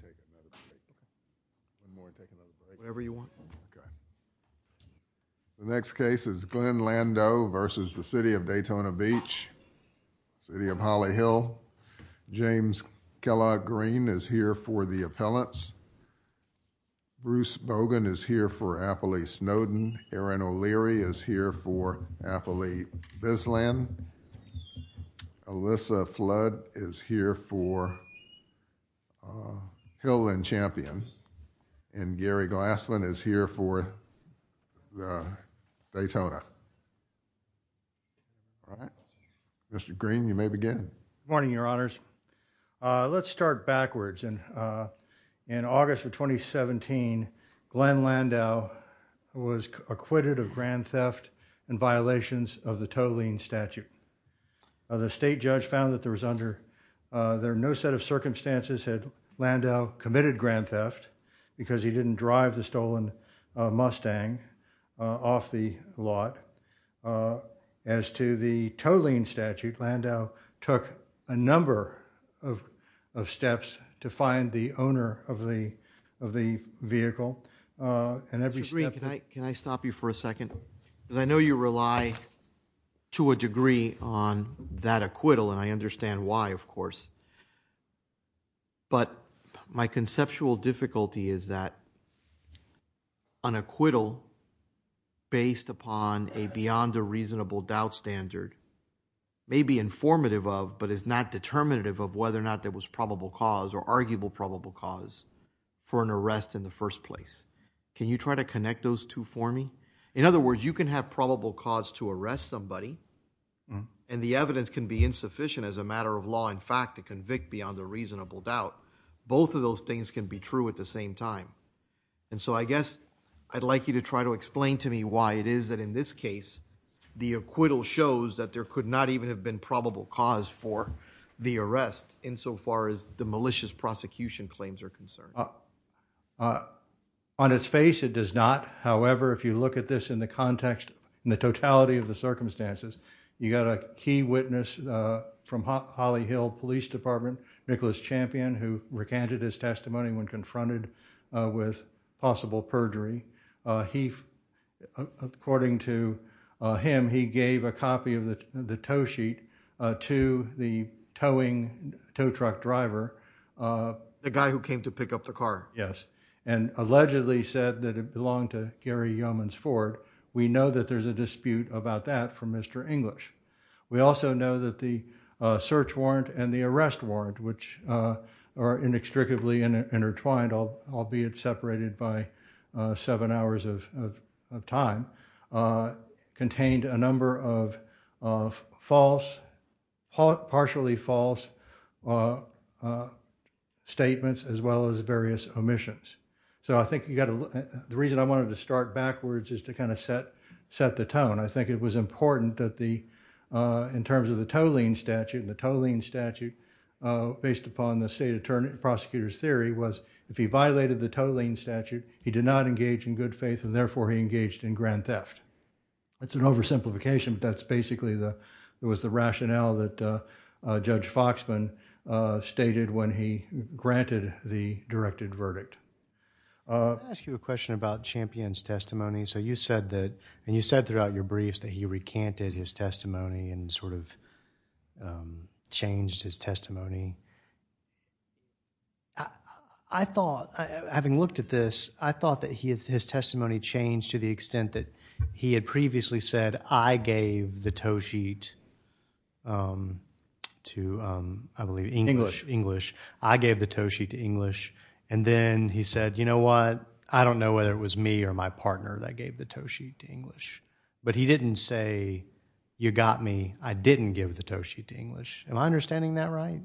City of Holly Hill. James Kellogg Green is here for the appellants. Bruce Bogan is here for Appley Snowden. Erin O'Leary is here for Appley Bisland. Alyssa Flood is here for Hill and Champion. And Gary Glassman is here for Daytona. Mr. Green, you may begin. Morning, your honors. Let's start backwards. In August of 2017, Glenn Landau was acquitted of grand theft and violations of the tolling statute. The state judge found that there was under there no set of circumstances had Landau committed grand theft because he didn't drive the stolen Mustang off the lot. As to the tolling and every step... Mr. Green, can I stop you for a second? Because I know you rely to a degree on that acquittal and I understand why, of course. But my conceptual difficulty is that an acquittal based upon a beyond a reasonable doubt standard may be informative of but is not determinative of whether or not there was probable cause or arguable probable cause for an arrest in the first place. Can you try to connect those two for me? In other words, you can have probable cause to arrest somebody and the evidence can be insufficient as a matter of law in fact to convict beyond a reasonable doubt. Both of those things can be true at the same time. And so I guess I'd like you to try to explain to me why it is that in this case the acquittal shows that there could not even have been probable cause for the arrest insofar as the malicious prosecution claims are concerned. On its face, it does not. However, if you look at this in the context, in the totality of the circumstances, you got a key witness from Holly Hill Police Department, Nicholas Champion, who recanted his testimony when confronted with possible perjury. He, according to him, he gave a copy of the tow sheet to the towing tow truck driver. The guy who came to pick up the car? Yes, and allegedly said that it belonged to Gary Yeoman's Ford. We know that there's a dispute about that from Mr. English. We also know that the search warrant and the arrest warrant, which are inextricably intertwined, albeit separated by seven hours of time, contained a number of partially false statements as well as various omissions. So I think the reason I wanted to start backwards is to kind of set the tone. I think it was important that in terms of the tolling statute, the tolling statute, based upon the state attorney prosecutor's theory, was if he violated the tolling statute, he would be charged with grand theft. That's an oversimplification, but that's basically the, it was the rationale that Judge Foxman stated when he granted the directed verdict. I'll ask you a question about Champion's testimony. So you said that, and you said throughout your briefs that he recanted his testimony and sort of changed his testimony. I thought, having looked at this, I thought that his testimony changed to the extent he had previously said, I gave the tow sheet to, I believe, English. I gave the tow sheet to English. And then he said, you know what, I don't know whether it was me or my partner that gave the tow sheet to English. But he didn't say, you got me, I didn't give the tow sheet to English. Am I understanding that right?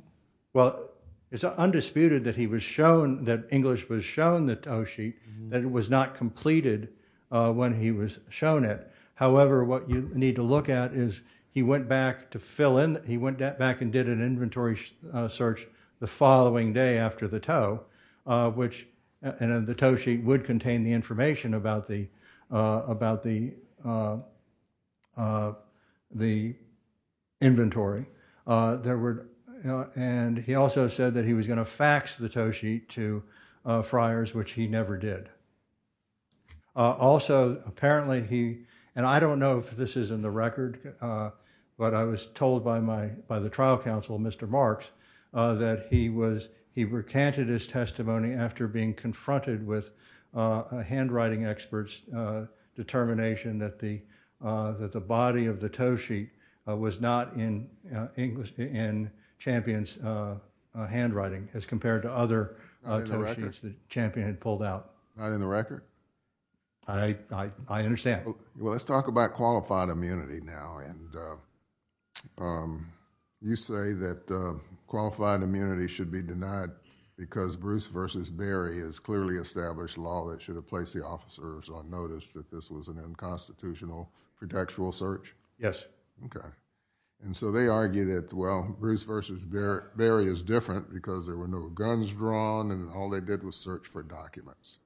Well, it's undisputed that he was shown, that English was shown the way he was shown it. However, what you need to look at is, he went back to fill in, he went back and did an inventory search the following day after the tow, which, and the tow sheet would contain the information about the, about the, the inventory. There were, and he also said that he was going to fax the tow sheet to Friars, which he never did. Also, apparently he, and I don't know if this is in the record, but I was told by my, by the trial counsel, Mr. Marks, that he was, he recanted his testimony after being confronted with a handwriting expert's determination that the, that the body of the tow sheet was not in English, in Champion's handwriting as compared to other tow sheets that Champion had pulled out. Not in the record? I, I understand. Well, let's talk about qualified immunity now, and you say that qualified immunity should be denied because Bruce v. Berry has clearly established law that should have placed the officers on notice that this was an unconstitutional pretextual search? Yes. Okay, and so they argue that, well, Bruce v. Berry is different because there were no guns drawn and all they did was search for documents.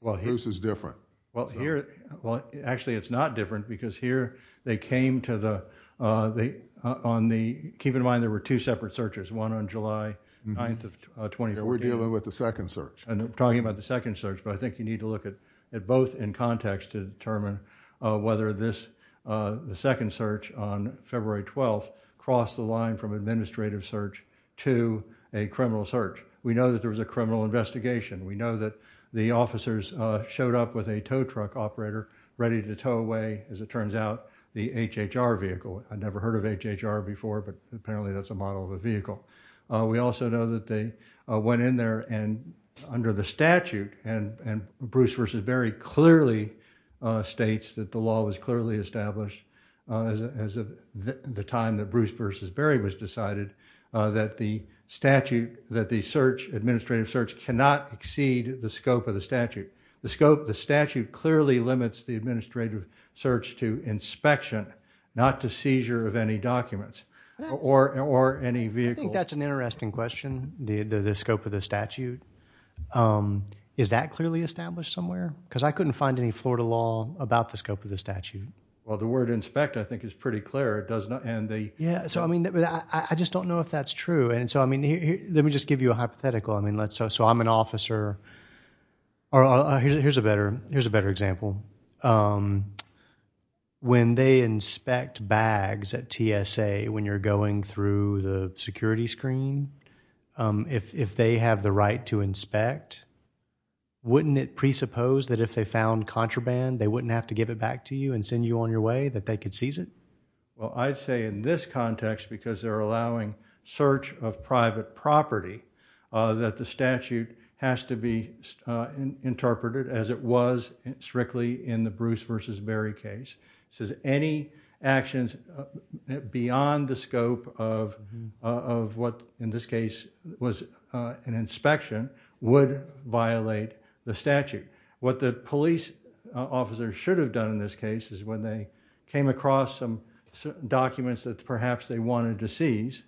Well, this is different. Well, here, well, actually it's not different because here they came to the, they, on the, keep in mind there were two separate searches, one on July 9th of 2014. We're dealing with the second search. I know, we're talking about the second search, but I think you need to look at both in context to determine whether this, the second search on February 12th crossed the line from administrative search to a criminal search. We know that there was a criminal investigation. We know that the officers showed up with a tow truck operator ready to tow away, as it turns out, the HHR vehicle. I'd never heard of HHR before, but apparently that's a model of a search. Bruce v. Berry clearly states that the law was clearly established as of the time that Bruce v. Berry was decided that the statute, that the search, administrative search, cannot exceed the scope of the statute. The scope, the statute clearly limits the administrative search to inspection, not to seizure of any documents or any vehicle. I think that's an interesting question, the scope of the statute. Is that clearly established somewhere? Because I couldn't find any Florida law about the scope of the statute. Well, the word inspect, I think, is pretty clear. It does not, and they. Yeah, so, I mean, I just don't know if that's true. And so, I mean, let me just give you a hypothetical. I mean, let's say, so I'm an officer, or here's a better, here's a better example. When they inspect bags at TSA, when you're going through the security screen, if they have the right to inspect, wouldn't it presuppose that if they found contraband, they wouldn't have to give it back to you and send you on your way, that they could seize it? Well, I'd say in this context, because they're allowing search of private property, that the statute has to be interpreted as it was strictly in the Bruce v. Berry case. It says any actions beyond the scope of what in this case was an inspection would violate the statute. What the police officer should have done in this case is when they came across some documents that perhaps they wanted to seize,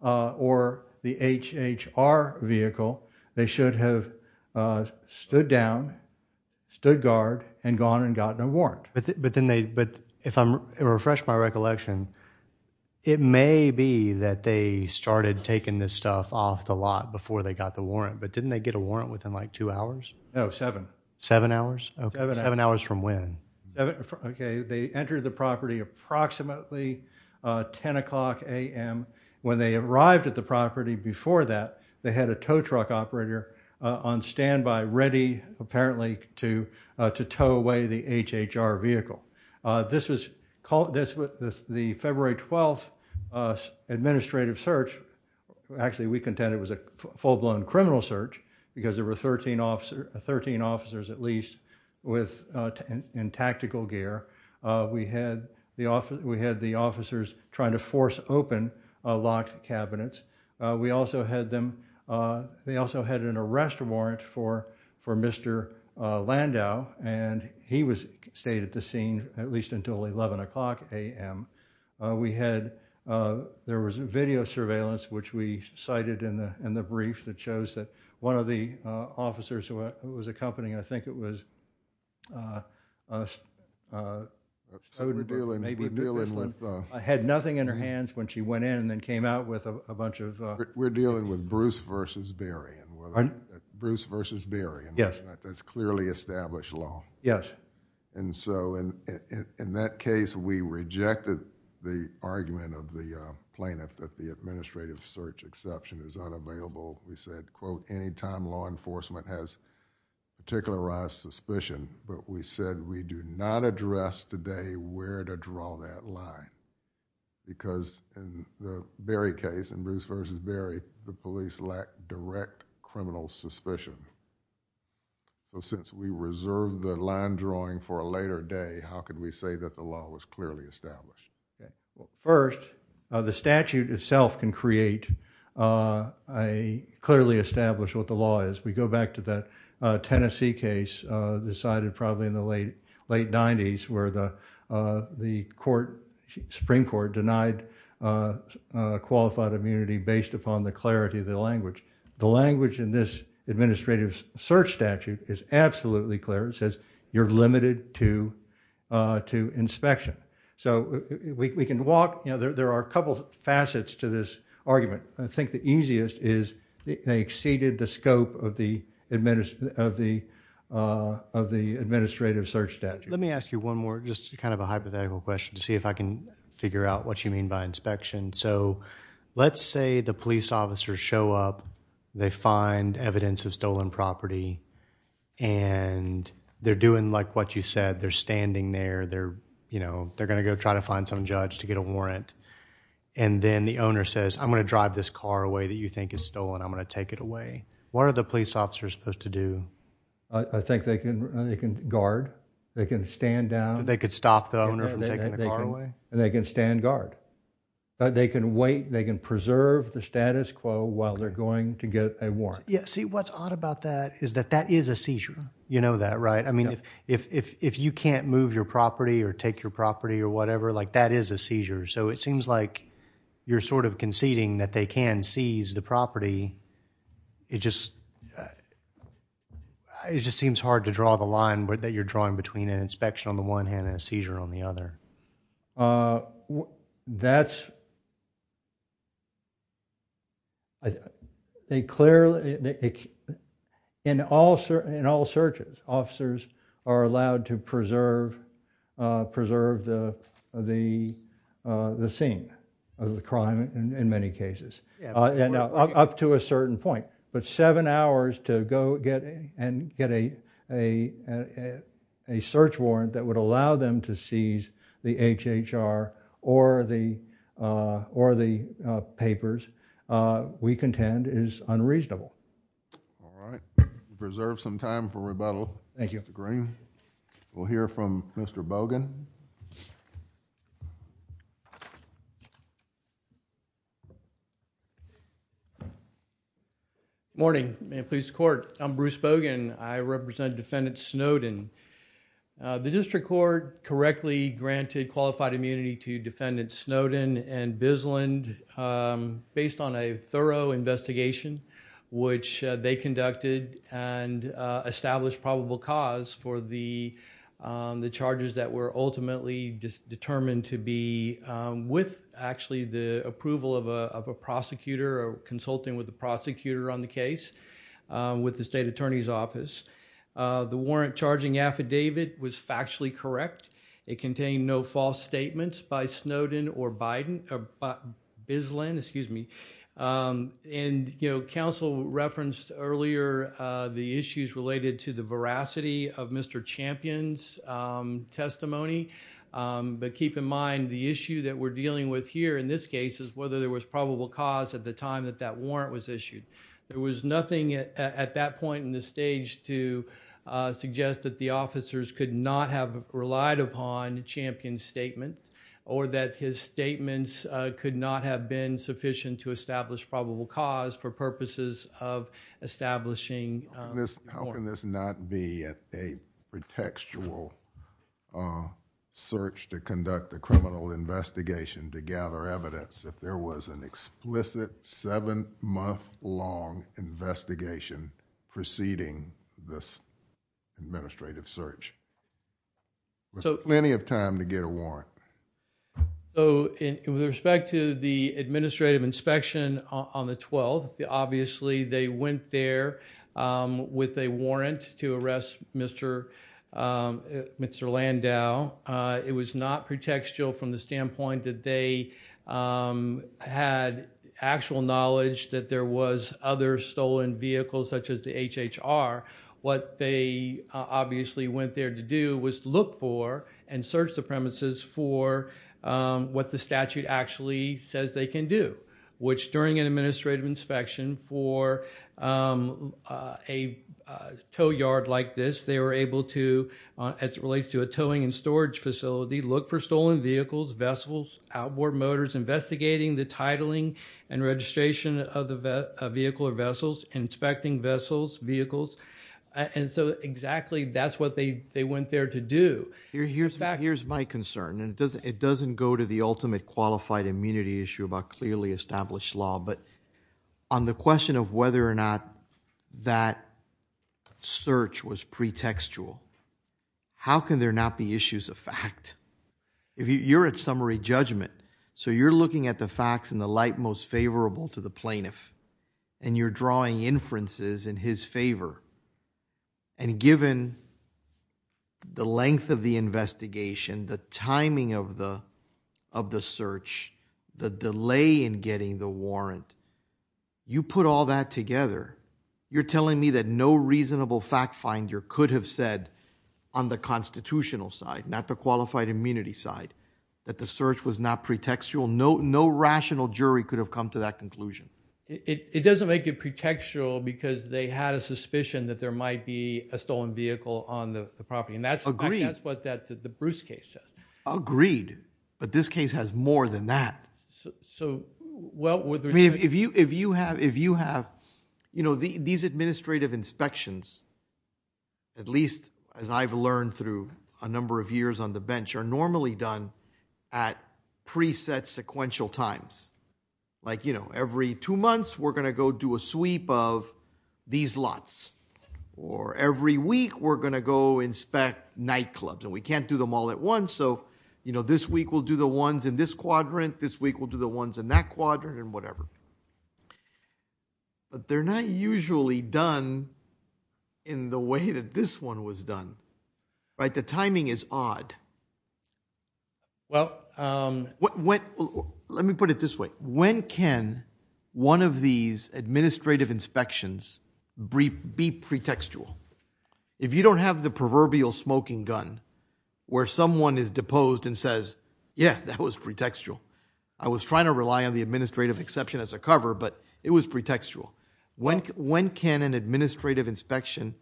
or the HHR vehicle, they should have stood down, stood guard, and gone and gotten a warrant. But then they, but if I'm, refresh my recollection, it may be that they started taking this stuff off the lot before they got the warrant, but didn't they get a warrant within like two hours? No, seven. Seven hours? Okay, seven hours from when? Okay, they entered the property approximately 10 o'clock a.m. When they arrived at the property before that, they had a tow truck operator on standby, ready apparently to tow away the HHR vehicle. This was the February 12th administrative search, actually we contend it was a full-blown criminal search, because there were 13 officers at least with, in tactical gear. We had the officers trying to force open locked cabinets. We also had them, they also had an arrest warrant for Mr. Landau, and he stayed at the scene at least until 11 o'clock a.m. We had, there was video surveillance which we cited in the case. I had nothing in her hands when she went in and then came out with a bunch of. We're dealing with Bruce versus Barry. Bruce versus Barry. Yes. That's clearly established law. Yes. And so in that case, we rejected the argument of the plaintiff that the administrative search exception is unavailable. We said, quote, anytime law enforcement has particularized suspicion, but we said we do not address today where to draw that line. Because in the Barry case, in Bruce versus Barry, the police lacked direct criminal suspicion. So since we reserved the line drawing for a later day, how could we say that the law was clearly established? First, the statute itself can create a clearly established what the law is. We go back to that Tennessee case decided probably in the late 90s where the court, Supreme Court, denied qualified immunity based upon the clarity of the language. The language in this administrative search statute is absolutely clear. It says you're limited to inspection. So we can walk, you know, there are a couple facets to this argument. I think the easiest is they exceeded the scope of the administrative search statute. Let me ask you one more just kind of a hypothetical question to see if I can figure out what you mean by inspection. So let's say the police officers show up. They find evidence of stolen property. And they're doing like what you said. They're standing there. They're, you know, they're going to go try to find some judge to get a warrant. And then the owner says, I'm going to drive this car away that you think is stolen. I'm going to what are the police officers supposed to do? I think they can, they can guard, they can stand down. They could stop the owner from taking the car away. And they can stand guard. They can wait, they can preserve the status quo while they're going to get a warrant. Yeah. See what's odd about that is that that is a seizure. You know that, right? I mean, if you can't move your property or take your property or whatever, like that is a seizure. So it seems like you're sort of conceding that they can seize the property. It just, it just seems hard to draw the line that you're drawing between an inspection on the one hand and a seizure on the other. That's, they clearly, in all searches, officers are allowed to preserve, preserve the, the, the scene of the crime in many cases, and up to a certain point, but seven hours to go get and get a, a, a search warrant that would allow them to seize the HHR or the, or the papers we contend is unreasonable. All right. Preserve some time for rebuttal. Thank you. Mr. Green. We'll hear from Mr. Bogan. Morning. Man Police Court. I'm Bruce Bogan. I represent Defendant Snowden. The District Court correctly granted qualified immunity to Defendant Snowden and Bisland based on a the, the charges that were ultimately determined to be with actually the approval of a, of a prosecutor or consulting with the prosecutor on the case with the state attorney's office. The warrant charging affidavit was factually correct. It contained no false statements by Snowden or Biden or Bisland, excuse me. And, you know, counsel referenced earlier the issues related to the veracity of Mr. Champion's testimony. But keep in mind the issue that we're dealing with here in this case is whether there was probable cause at the time that that warrant was issued. There was nothing at that point in the stage to suggest that the officers could not have relied upon Champion's statement or that his statements could not have been How can this not be a pretextual search to conduct a criminal investigation to gather evidence if there was an explicit seven-month-long investigation preceding this administrative search? There's plenty of time to get a warrant. So with respect to the administrative inspection on the 12th, obviously they went there with a warrant to arrest Mr. Landau. It was not pretextual from the standpoint that they had actual knowledge that there was other stolen vehicles such as the HHR. What they obviously went there to do was look for and search the administrative inspection for a tow yard like this. They were able to, as it relates to a towing and storage facility, look for stolen vehicles, vessels, outboard motors, investigating the titling and registration of the vehicle or vessels, inspecting vessels, vehicles. And so exactly that's what they went there to do. Here's my concern, and it doesn't go to ultimate qualified immunity issue about clearly established law, but on the question of whether or not that search was pretextual, how can there not be issues of fact? If you're at summary judgment, so you're looking at the facts in the light most favorable to the plaintiff, and you're drawing inferences in his favor, and given the length of the investigation, the timing of the search, the delay in getting the warrant, you put all that together, you're telling me that no reasonable fact finder could have said on the constitutional side, not the qualified immunity side, that the search was not pretextual. No rational jury could have come to that conclusion. It doesn't make it pretextual because they had a suspicion that there might be a stolen vehicle on the property. And that's what the Bruce case says. Agreed. But this case has more than that. If you have, you know, these administrative inspections, at least as I've learned through a number of years on the bench, are normally done at preset sequential times. Like, you know, every two months we're going to go do a sweep of these lots. Or every week we're going to go inspect nightclubs. And we can't do them all at once. So, you know, this week we'll do the ones in this quadrant, this week we'll do the ones in that quadrant, and whatever. But they're not usually done in the way that this one was done. Right? The timing is odd. Well, let me put it this way. When can one of these administrative inspections be pretextual? If you don't have the proverbial smoking gun, where someone is deposed and says, yeah, that was pretextual. I was trying to rely on the administrative exception as a cover, but it was pretextual. When can an administrative inspection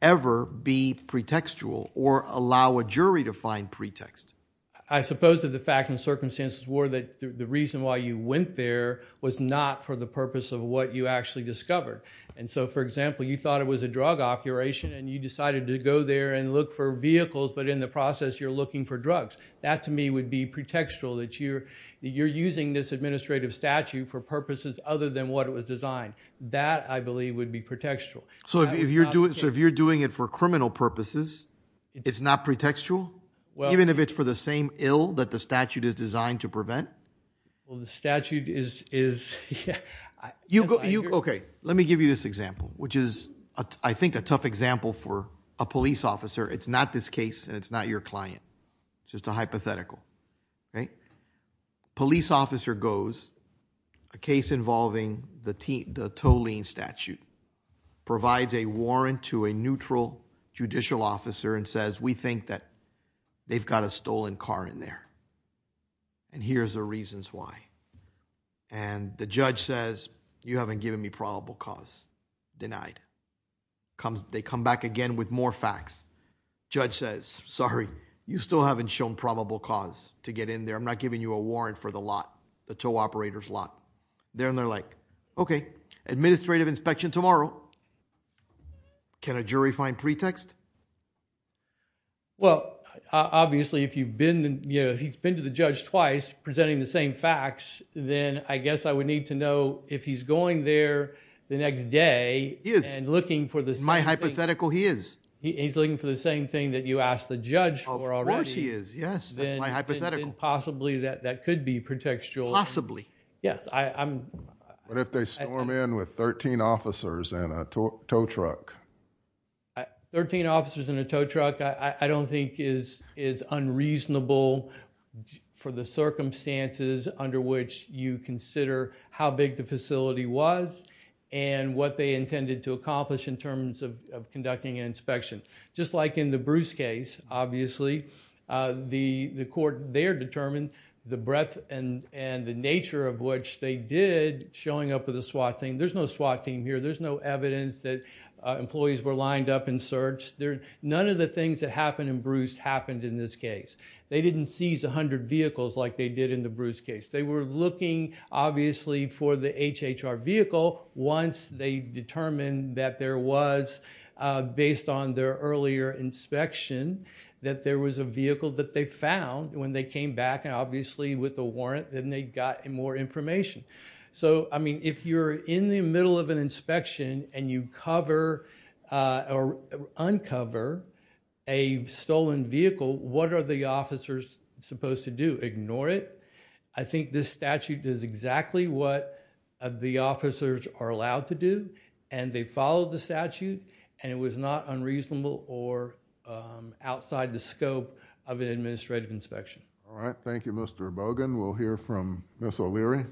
ever be pretextual or allow a jury to find pretext? I suppose that the fact and circumstances were that the reason why you went there was not for the purpose of what you actually discovered. And so, for example, you thought it was a drug operation and you decided to go there and look for vehicles, but in the process you're looking for drugs. That, to me, would be pretextual. That you're using this administrative statute for purposes other than what it was designed. That, I believe, would be pretextual. So if you're doing it for criminal purposes, it's not pretextual? Even if it's for the same ill that the statute is designed to prevent? Well, the statute is... Okay, let me give you this example, which is, I think, a tough example for a police officer. It's not this case and it's not your client. It's just a hypothetical. A police officer goes, a case involving the Toline statute, provides a warrant to a neutral judicial officer and says, we think that they've got a stolen car in there. And here's the reasons why. And the judge says, you haven't given me probable cause. Denied. They come back again with more facts. Judge says, sorry, you still haven't shown probable cause to get in there. I'm not giving you a warrant for the lot, the tow operator's lot. Then they're like, okay, administrative inspection tomorrow. Can a jury find pretext? Well, obviously, if he's been to the judge twice presenting the same facts, then I guess I would need to know if he's going there the next day and looking for the same thing. My hypothetical, he is. He's looking for the same thing that you asked the judge for already. Of course he is, yes. That's my hypothetical. Then possibly that could be pretextual. Yes. What if they storm in with 13 officers and a tow truck? Thirteen officers and a tow truck, I don't think is unreasonable for the circumstances under which you consider how big the facility was and what they intended to accomplish in terms of conducting an inspection. Just like in the Bruce case, obviously, the court there determined the breadth and the nature of which they did, showing up with a SWAT team. There's no SWAT team here. There's no evidence that employees were lined up and searched. None of the things that happened in Bruce happened in this case. They didn't seize 100 vehicles like they did in the Bruce case. They were looking, obviously, for the HHR vehicle once they determined that there was, based on their earlier inspection, that there was a vehicle that they found when they came back. Obviously, with a warrant, then they got more information. If you're in the middle of an inspection and you uncover a stolen vehicle, what are the officers supposed to do? Ignore it. I think this statute does exactly what the officers are allowed to do. They followed the statute. It was not unreasonable or outside the scope of an administrative inspection. Thank you, Mr. Bogan. We'll hear from Ms. O'Leary.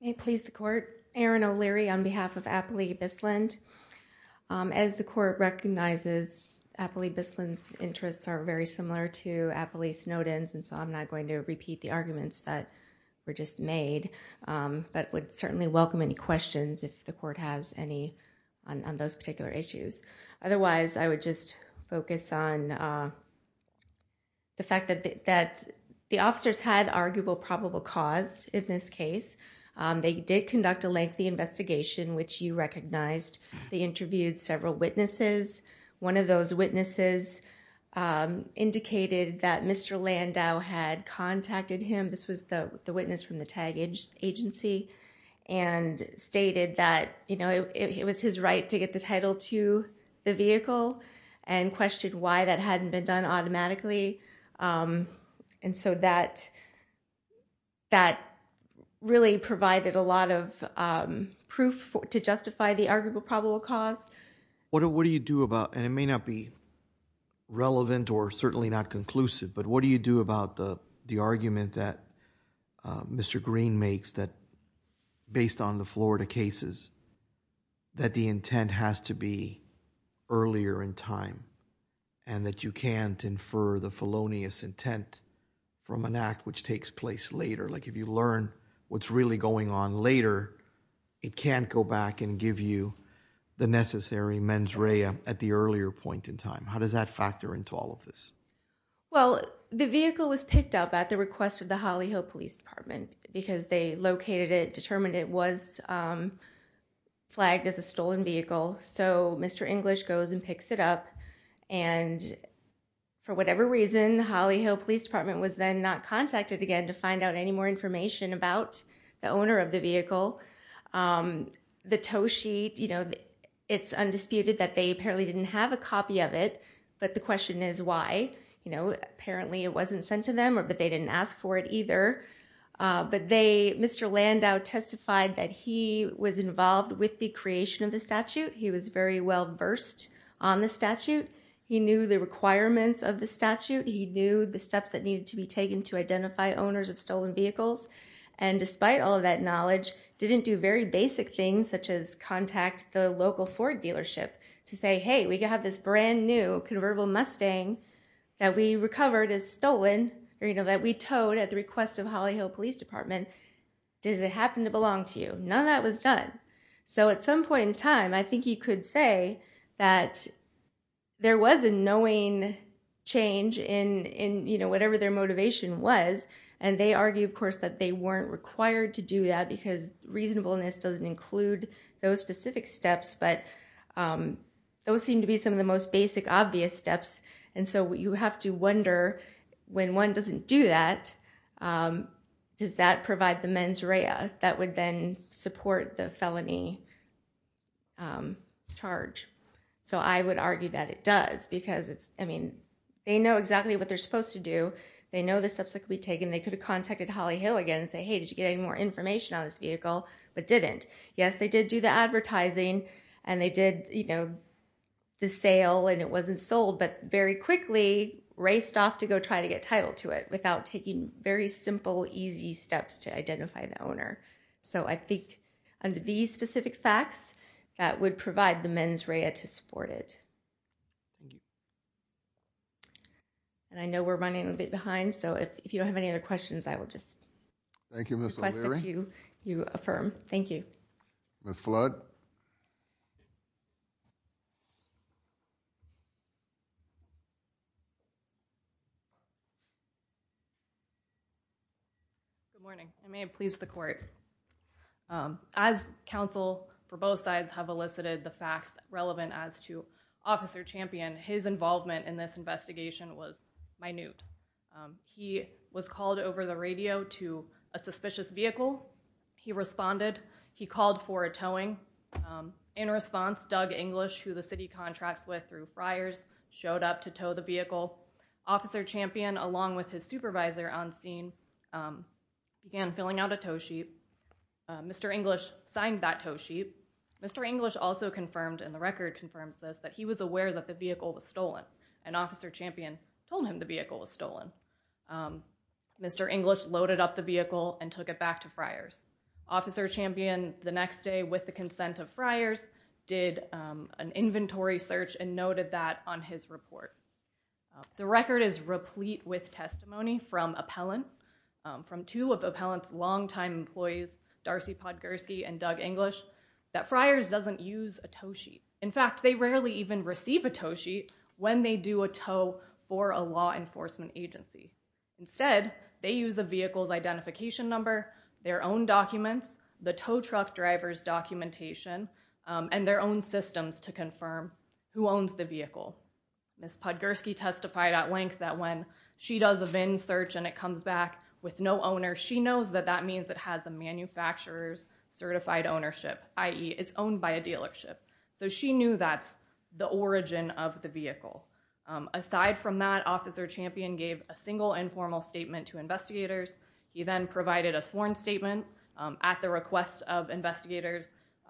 May it please the court. Erin O'Leary on behalf of Appley-Bisland. As the court recognizes, Appley-Bisland's interests are very similar to Appley-Snowden's. I'm not going to repeat the arguments that were just made, but would certainly welcome any questions if the court has any on those particular issues. Otherwise, I would just focus on the fact that the officers had arguable probable cause in this case. They did conduct a lengthy investigation, which you recognized. They interviewed several witnesses. One of those witnesses indicated that Mr. Landau had contacted him. This was the witness from the TAG agency and stated that it was his right to get the title to the vehicle and questioned why that hadn't been done automatically. That really provided a lot of proof to justify the arguable probable cause. What do you do about, and it may not be relevant or certainly not conclusive, but what do you do about the argument that Mr. Green makes that based on the Florida cases that the intent has to be earlier in time and that you can't infer the felonious intent from an act which takes place later? If you learn what's really going on later, it can't go back and give you the necessary mens rea at the earlier point in time. How does that factor into all of this? Well, the vehicle was picked up at the request of the Holly Hill Police Department because they located it, determined it was flagged as a stolen vehicle. Mr. English goes and picks it up. For whatever reason, Holly Hill Police Department was then not contacted to find out any more information about the owner of the vehicle. The tow sheet, it's undisputed that they apparently didn't have a copy of it, but the question is why. Apparently, it wasn't sent to them, but they didn't ask for it either. Mr. Landau testified that he was involved with the creation of the statute. He was very well-versed on the statute. He knew the requirements of the statute. He knew the steps that needed to be taken to identify owners of stolen vehicles, and despite all of that knowledge, didn't do very basic things such as contact the local Ford dealership to say, hey, we have this brand new convertible Mustang that we recovered as stolen or that we towed at the request of Holly Hill Police Department. Does it happen to belong to you? None of that was done. At some point in time, I think he could say that there was a knowing change in whatever their motivation was, and they argue, of course, that they weren't required to do that because reasonableness doesn't include those specific steps, but those seem to be some of the most basic obvious steps, and so you have to wonder, when one doesn't do that, does that provide the mens rea that would then support the felony charge? So I would argue that it does because it's, I mean, they know exactly what they're supposed to do. They know the steps that could be taken. They could have contacted Holly Hill again and say, hey, did you get any more information on this vehicle, but didn't. Yes, they did do the advertising, and they did the sale, and it wasn't sold, but very quickly raced off to go try to get title to it without taking very simple, easy steps to identify the facts that would provide the mens rea to support it, and I know we're running a bit behind, so if you don't have any other questions, I will just request that you affirm. Thank you. Ms. Flood? Good morning. I may have pleased the court. As counsel for both sides have elicited the facts relevant as to Officer Champion, his involvement in this investigation was minute. He was called In response, Doug English, who the city contracts with through Friars, showed up to tow the vehicle. Officer Champion, along with his supervisor on scene, began filling out a tow sheet. Mr. English signed that tow sheet. Mr. English also confirmed, and the record confirms this, that he was aware that the vehicle was stolen, and Officer Champion told him the vehicle was stolen. Mr. English loaded up the vehicle and took it back to Friars. Officer Champion, the next day, with the consent of Friars, did an inventory search and noted that on his report. The record is replete with testimony from appellant, from two of the appellant's longtime employees, Darcy Podgorski and Doug English, that Friars doesn't use a tow sheet. In fact, they rarely even receive a tow sheet when they do a tow for a law enforcement agency. Instead, they use a vehicle's identification number, their own documents, the tow truck driver's documentation, and their own systems to confirm who owns the vehicle. Ms. Podgorski testified at length that when she does a VIN search and it comes back with no owner, she knows that that means it has a manufacturer's certified ownership, i.e. it's owned by a dealership. So she knew that's the origin of the vehicle. Aside from that, Officer Champion gave a single informal statement to investigators. He then provided a sworn statement at the request of investigators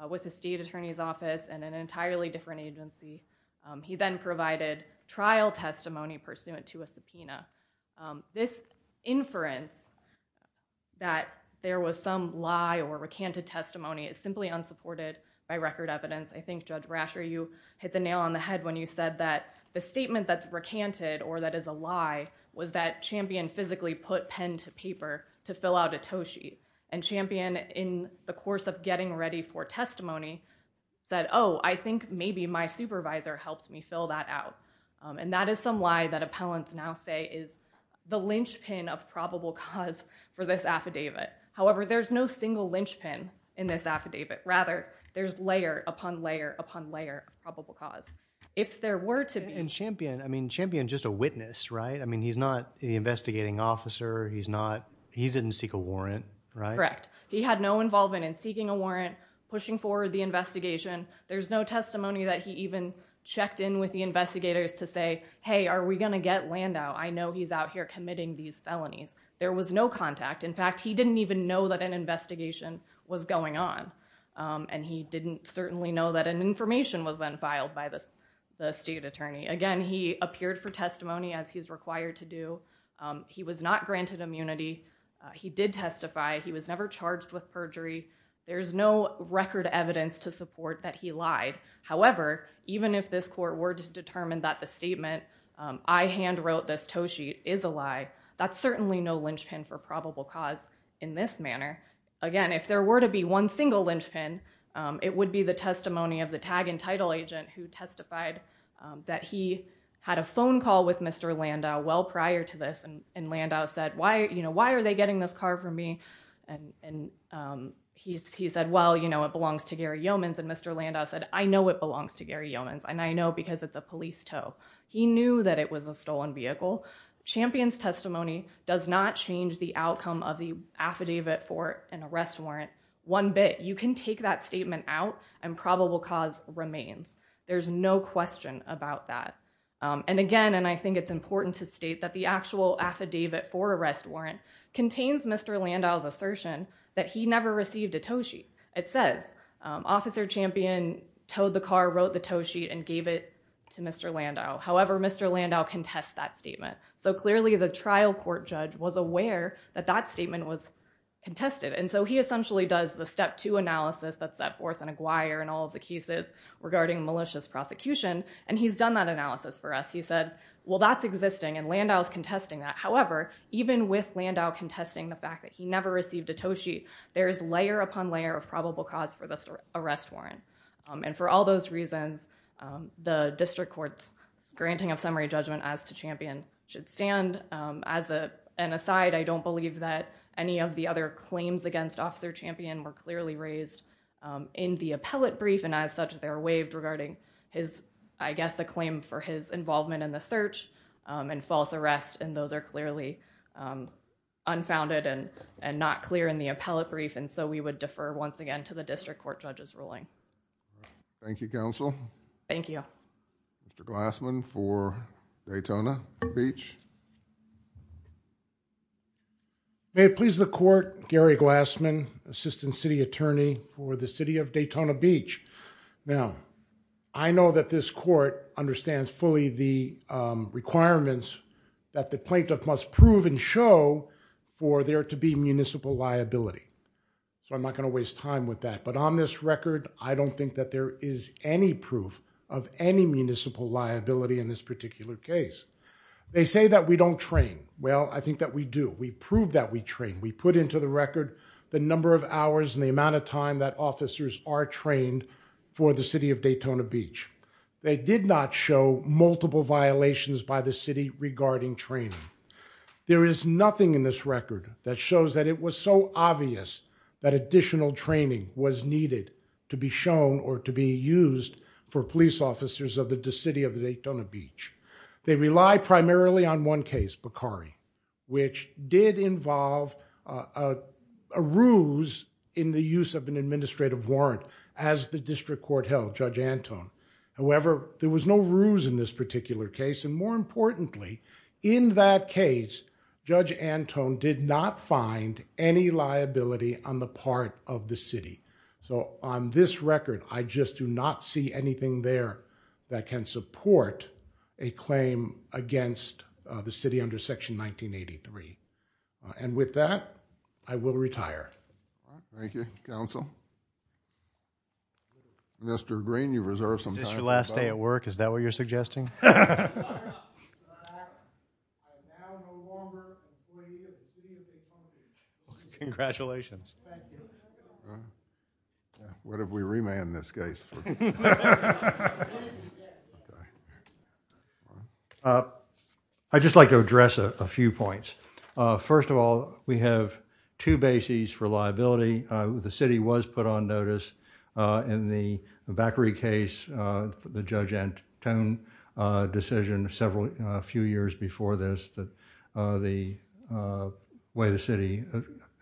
with the state attorney's office and an entirely different agency. He then provided trial testimony pursuant to a subpoena. This inference that there was some lie or recanted testimony is simply unsupported by record evidence. I think, Judge Brasher, you hit the nail on the head when you said that the statement that's recanted or that is a lie was that Champion physically put pen to paper to fill out a tow sheet. And Champion, in the course of getting ready for testimony, said, oh, I think maybe my supervisor helped me fill that out. And that is some lie that appellants now say is the linchpin of probable cause for this affidavit. However, there's no single linchpin in this affidavit. Rather, there's layer upon layer upon layer of probable cause. If there were to be... And Champion, I mean, Champion's just a witness, right? I mean, he's not the investigating officer. He's not, he didn't seek a warrant, right? Correct. He had no involvement in seeking a warrant, pushing forward the investigation. There's no testimony that he even checked in with the investigators to say, hey, are we going to get Landau? I know he's out here committing these felonies. There was no contact. In fact, he didn't even know that an investigation was going on. And he didn't certainly know that an information was then filed by the state attorney. Again, he appeared for testimony as he's required to do. He was not granted immunity. He did testify. He was never charged with perjury. There's no record evidence to support that he lied. However, even if this court were to determine that the statement, I hand wrote this tow sheet, is a lie, that's certainly no linchpin for probable cause in this manner. Again, if there were to be one single linchpin, it would be the testimony of the tag and title agent who testified that he had a phone call with Mr. Landau well prior to this. And Landau said, why, you know, why are they getting this car from me? And he said, well, you know, it belongs to Gary Yeomans. And Mr. Landau said, I know it belongs to Gary Yeomans. And I know because it's a police tow. He knew that it was a stolen vehicle. Champion's testimony does not change the outcome of the arrest warrant one bit. You can take that statement out and probable cause remains. There's no question about that. And again, and I think it's important to state that the actual affidavit for arrest warrant contains Mr. Landau's assertion that he never received a tow sheet. It says Officer Champion towed the car, wrote the tow sheet, and gave it to Mr. Landau. However, Mr. Landau contested that statement. So clearly the trial court judge was aware that that statement was contested. And so he essentially does the step two analysis that's set forth in Aguirre and all of the cases regarding malicious prosecution. And he's done that analysis for us. He said, well, that's existing and Landau's contesting that. However, even with Landau contesting the fact that he never received a tow sheet, there is layer upon layer of probable cause for this arrest warrant. And for all those reasons, the district court's granting of summary judgment as to Champion should stand. As an aside, I don't believe that any of the other claims against Officer Champion were clearly raised in the appellate brief. And as such, they're waived regarding his, I guess, the claim for his involvement in the search and false arrest. And those are clearly unfounded and not clear in the appellate brief. And so we would defer once again to the district court judge's ruling. Thank you, counsel. Thank you. Mr. Glassman for Daytona Beach. May it please the court, Gary Glassman, Assistant City Attorney for the City of Daytona Beach. Now, I know that this court understands fully the requirements that the plaintiff must prove and show for there to be municipal liability. So I'm not going to waste time with that. But on this record, I don't think that there is any proof of any municipal liability in this particular case. They say that we don't train. Well, I think that we do. We prove that we train. We put into the record the number of hours and the amount of time that officers are trained for the City of Daytona Beach. They did not show multiple violations by the city regarding training. There is nothing in this record that shows that it was so obvious that additional training was needed to be shown or to be used for police officers of the City of Daytona Beach. They rely primarily on one case, Bakari, which did involve a ruse in the use of an administrative warrant as the district court held, Judge Antone. However, there was no ruse in this particular case. And more importantly, in that case, Judge Antone did not find any liability on the part of the city. So on this record, I just do not see anything there that can support a claim against the city under Section 1983. And with that, I will retire. Thank you, Counsel. Mr. Green, you reserve some time. Is this your last day at work? Is that what you're suggesting? I now no longer employee of the City of Daytona Beach. Congratulations. What if we remand this case? I'd just like to address a few points. First of all, we have two bases for liability. The city was put on notice in the Bakari case, the Judge Antone decision several few years before this, that the way the city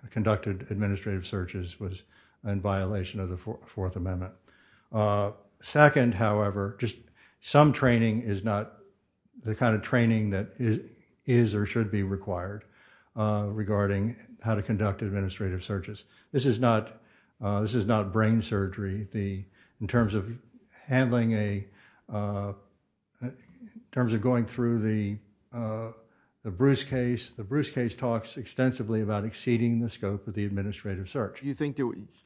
conducted administrative searches was in violation of the Fourth Amendment. Second, however, just some training is not the kind of training that is or should be required regarding how to conduct administrative searches. This is not brain surgery. In terms of going through the Bruce case, the Bruce case talks extensively about exceeding the scope of the administrative search.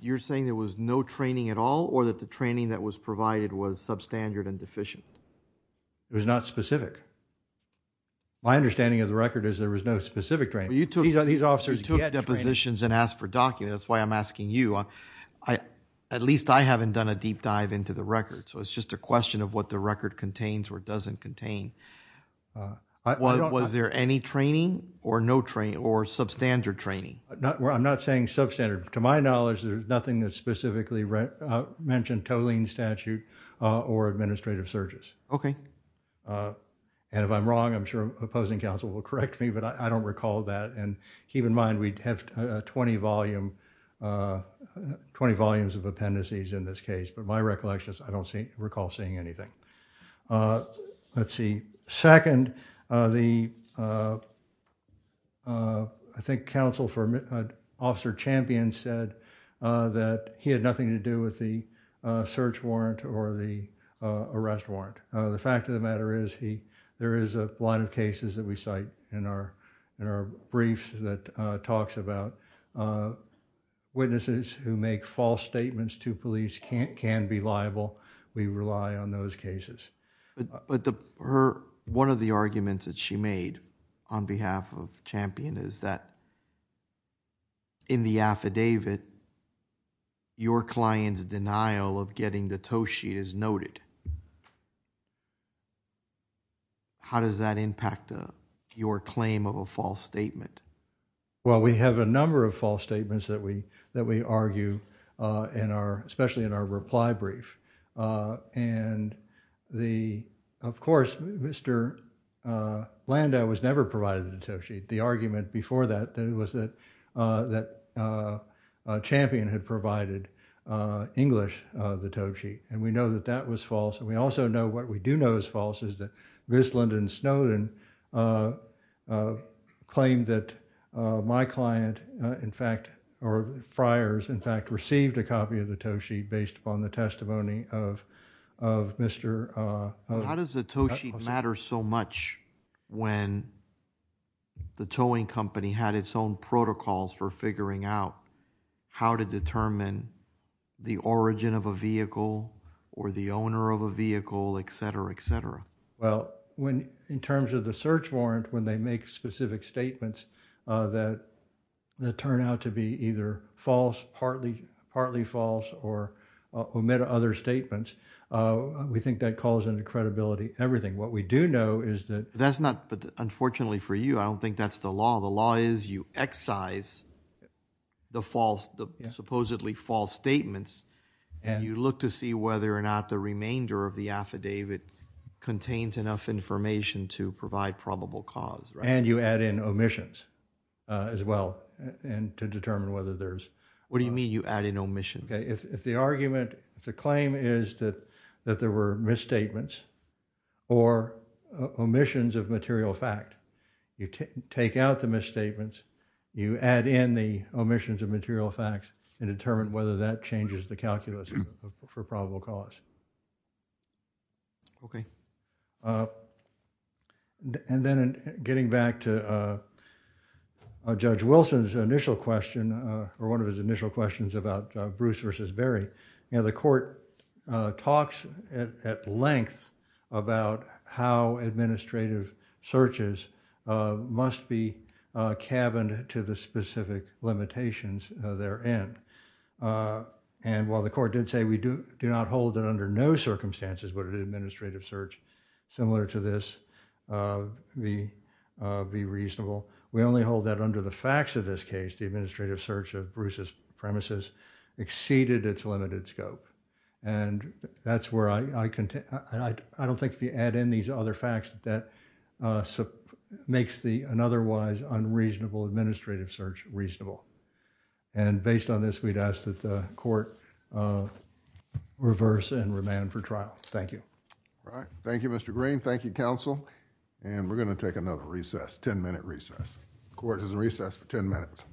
You're saying there was no training at all, or that the training that was provided was substandard and deficient? It was not specific. My understanding of the record is there was no specific training. You took depositions and asked for documents. That's why I'm asking you. At least I haven't done a deep dive into the record. So it's just a question of what the record contains or doesn't contain. Was there any training or no training or substandard training? I'm not saying substandard. To my knowledge, there's nothing that specifically mentioned tolling statute or administrative searches. And if I'm wrong, I'm sure opposing counsel will correct me, but I don't recall that. And keep in mind, we have 20 volumes of appendices in this case. But my recollection is I don't recall seeing anything. Let's see. Second, I think counsel for the search warrant or the arrest warrant. The fact of the matter is there is a lot of cases that we cite in our briefs that talks about witnesses who make false statements to police can be liable. We rely on those cases. But one of the arguments that she made on behalf of Champion is that in the affidavit, your client's denial of getting the toast sheet is noted. How does that impact your claim of a false statement? Well, we have a number of false statements that we argue, especially in our reply brief. And of course, Mr. Landa was never provided the toast sheet. The argument before that was that Champion had provided English the toast sheet. And we know that that was false. And we also know what we do know is false is that Wisland and Snowden claimed that my client, in fact, or Friars, in fact, received a copy of the toast sheet based upon the testimony of Mr. How does the toast sheet matter so much when the towing company had its own protocols for figuring out how to determine the origin of a vehicle or the owner of a vehicle, et cetera, et cetera? Well, when in terms of the search warrant, when they make specific statements that turn out to be either false, partly false, or omit other statements, we think that calls into credibility everything. What we do know is that That's not, unfortunately for you, I don't think that's the law. The law is you excise the false, the supposedly false statements, and you look to see whether or not the remainder of the affidavit contains enough information to provide probable cause. And you add in omissions as well and to determine whether there's What do you mean you add in omissions? If the argument, if the claim is that there were misstatements or omissions of material fact, you take out the misstatements, you add in the omissions of material facts and determine whether that changes the calculus for probable cause. Okay. And then getting back to Judge Wilson's initial question, or one of his initial questions about Bruce versus Barry, you know, the court talks at length about how administrative searches must be cabined to the specific limitations therein. And while the court did say we do not hold that under no circumstances would an administrative search, similar to this, be reasonable, we only hold that under the facts of this case, the administrative search of Bruce's premises exceeded its limited scope. And that's where I don't think if you add in these other facts that makes an otherwise unreasonable administrative search reasonable. And based on this, we'd ask that the court reverse and remand for trial. Thank you. All right. Thank you, Mr. Green. Thank you, counsel. And we're going to take another recess, ten-minute recess. Court is in recess for ten minutes.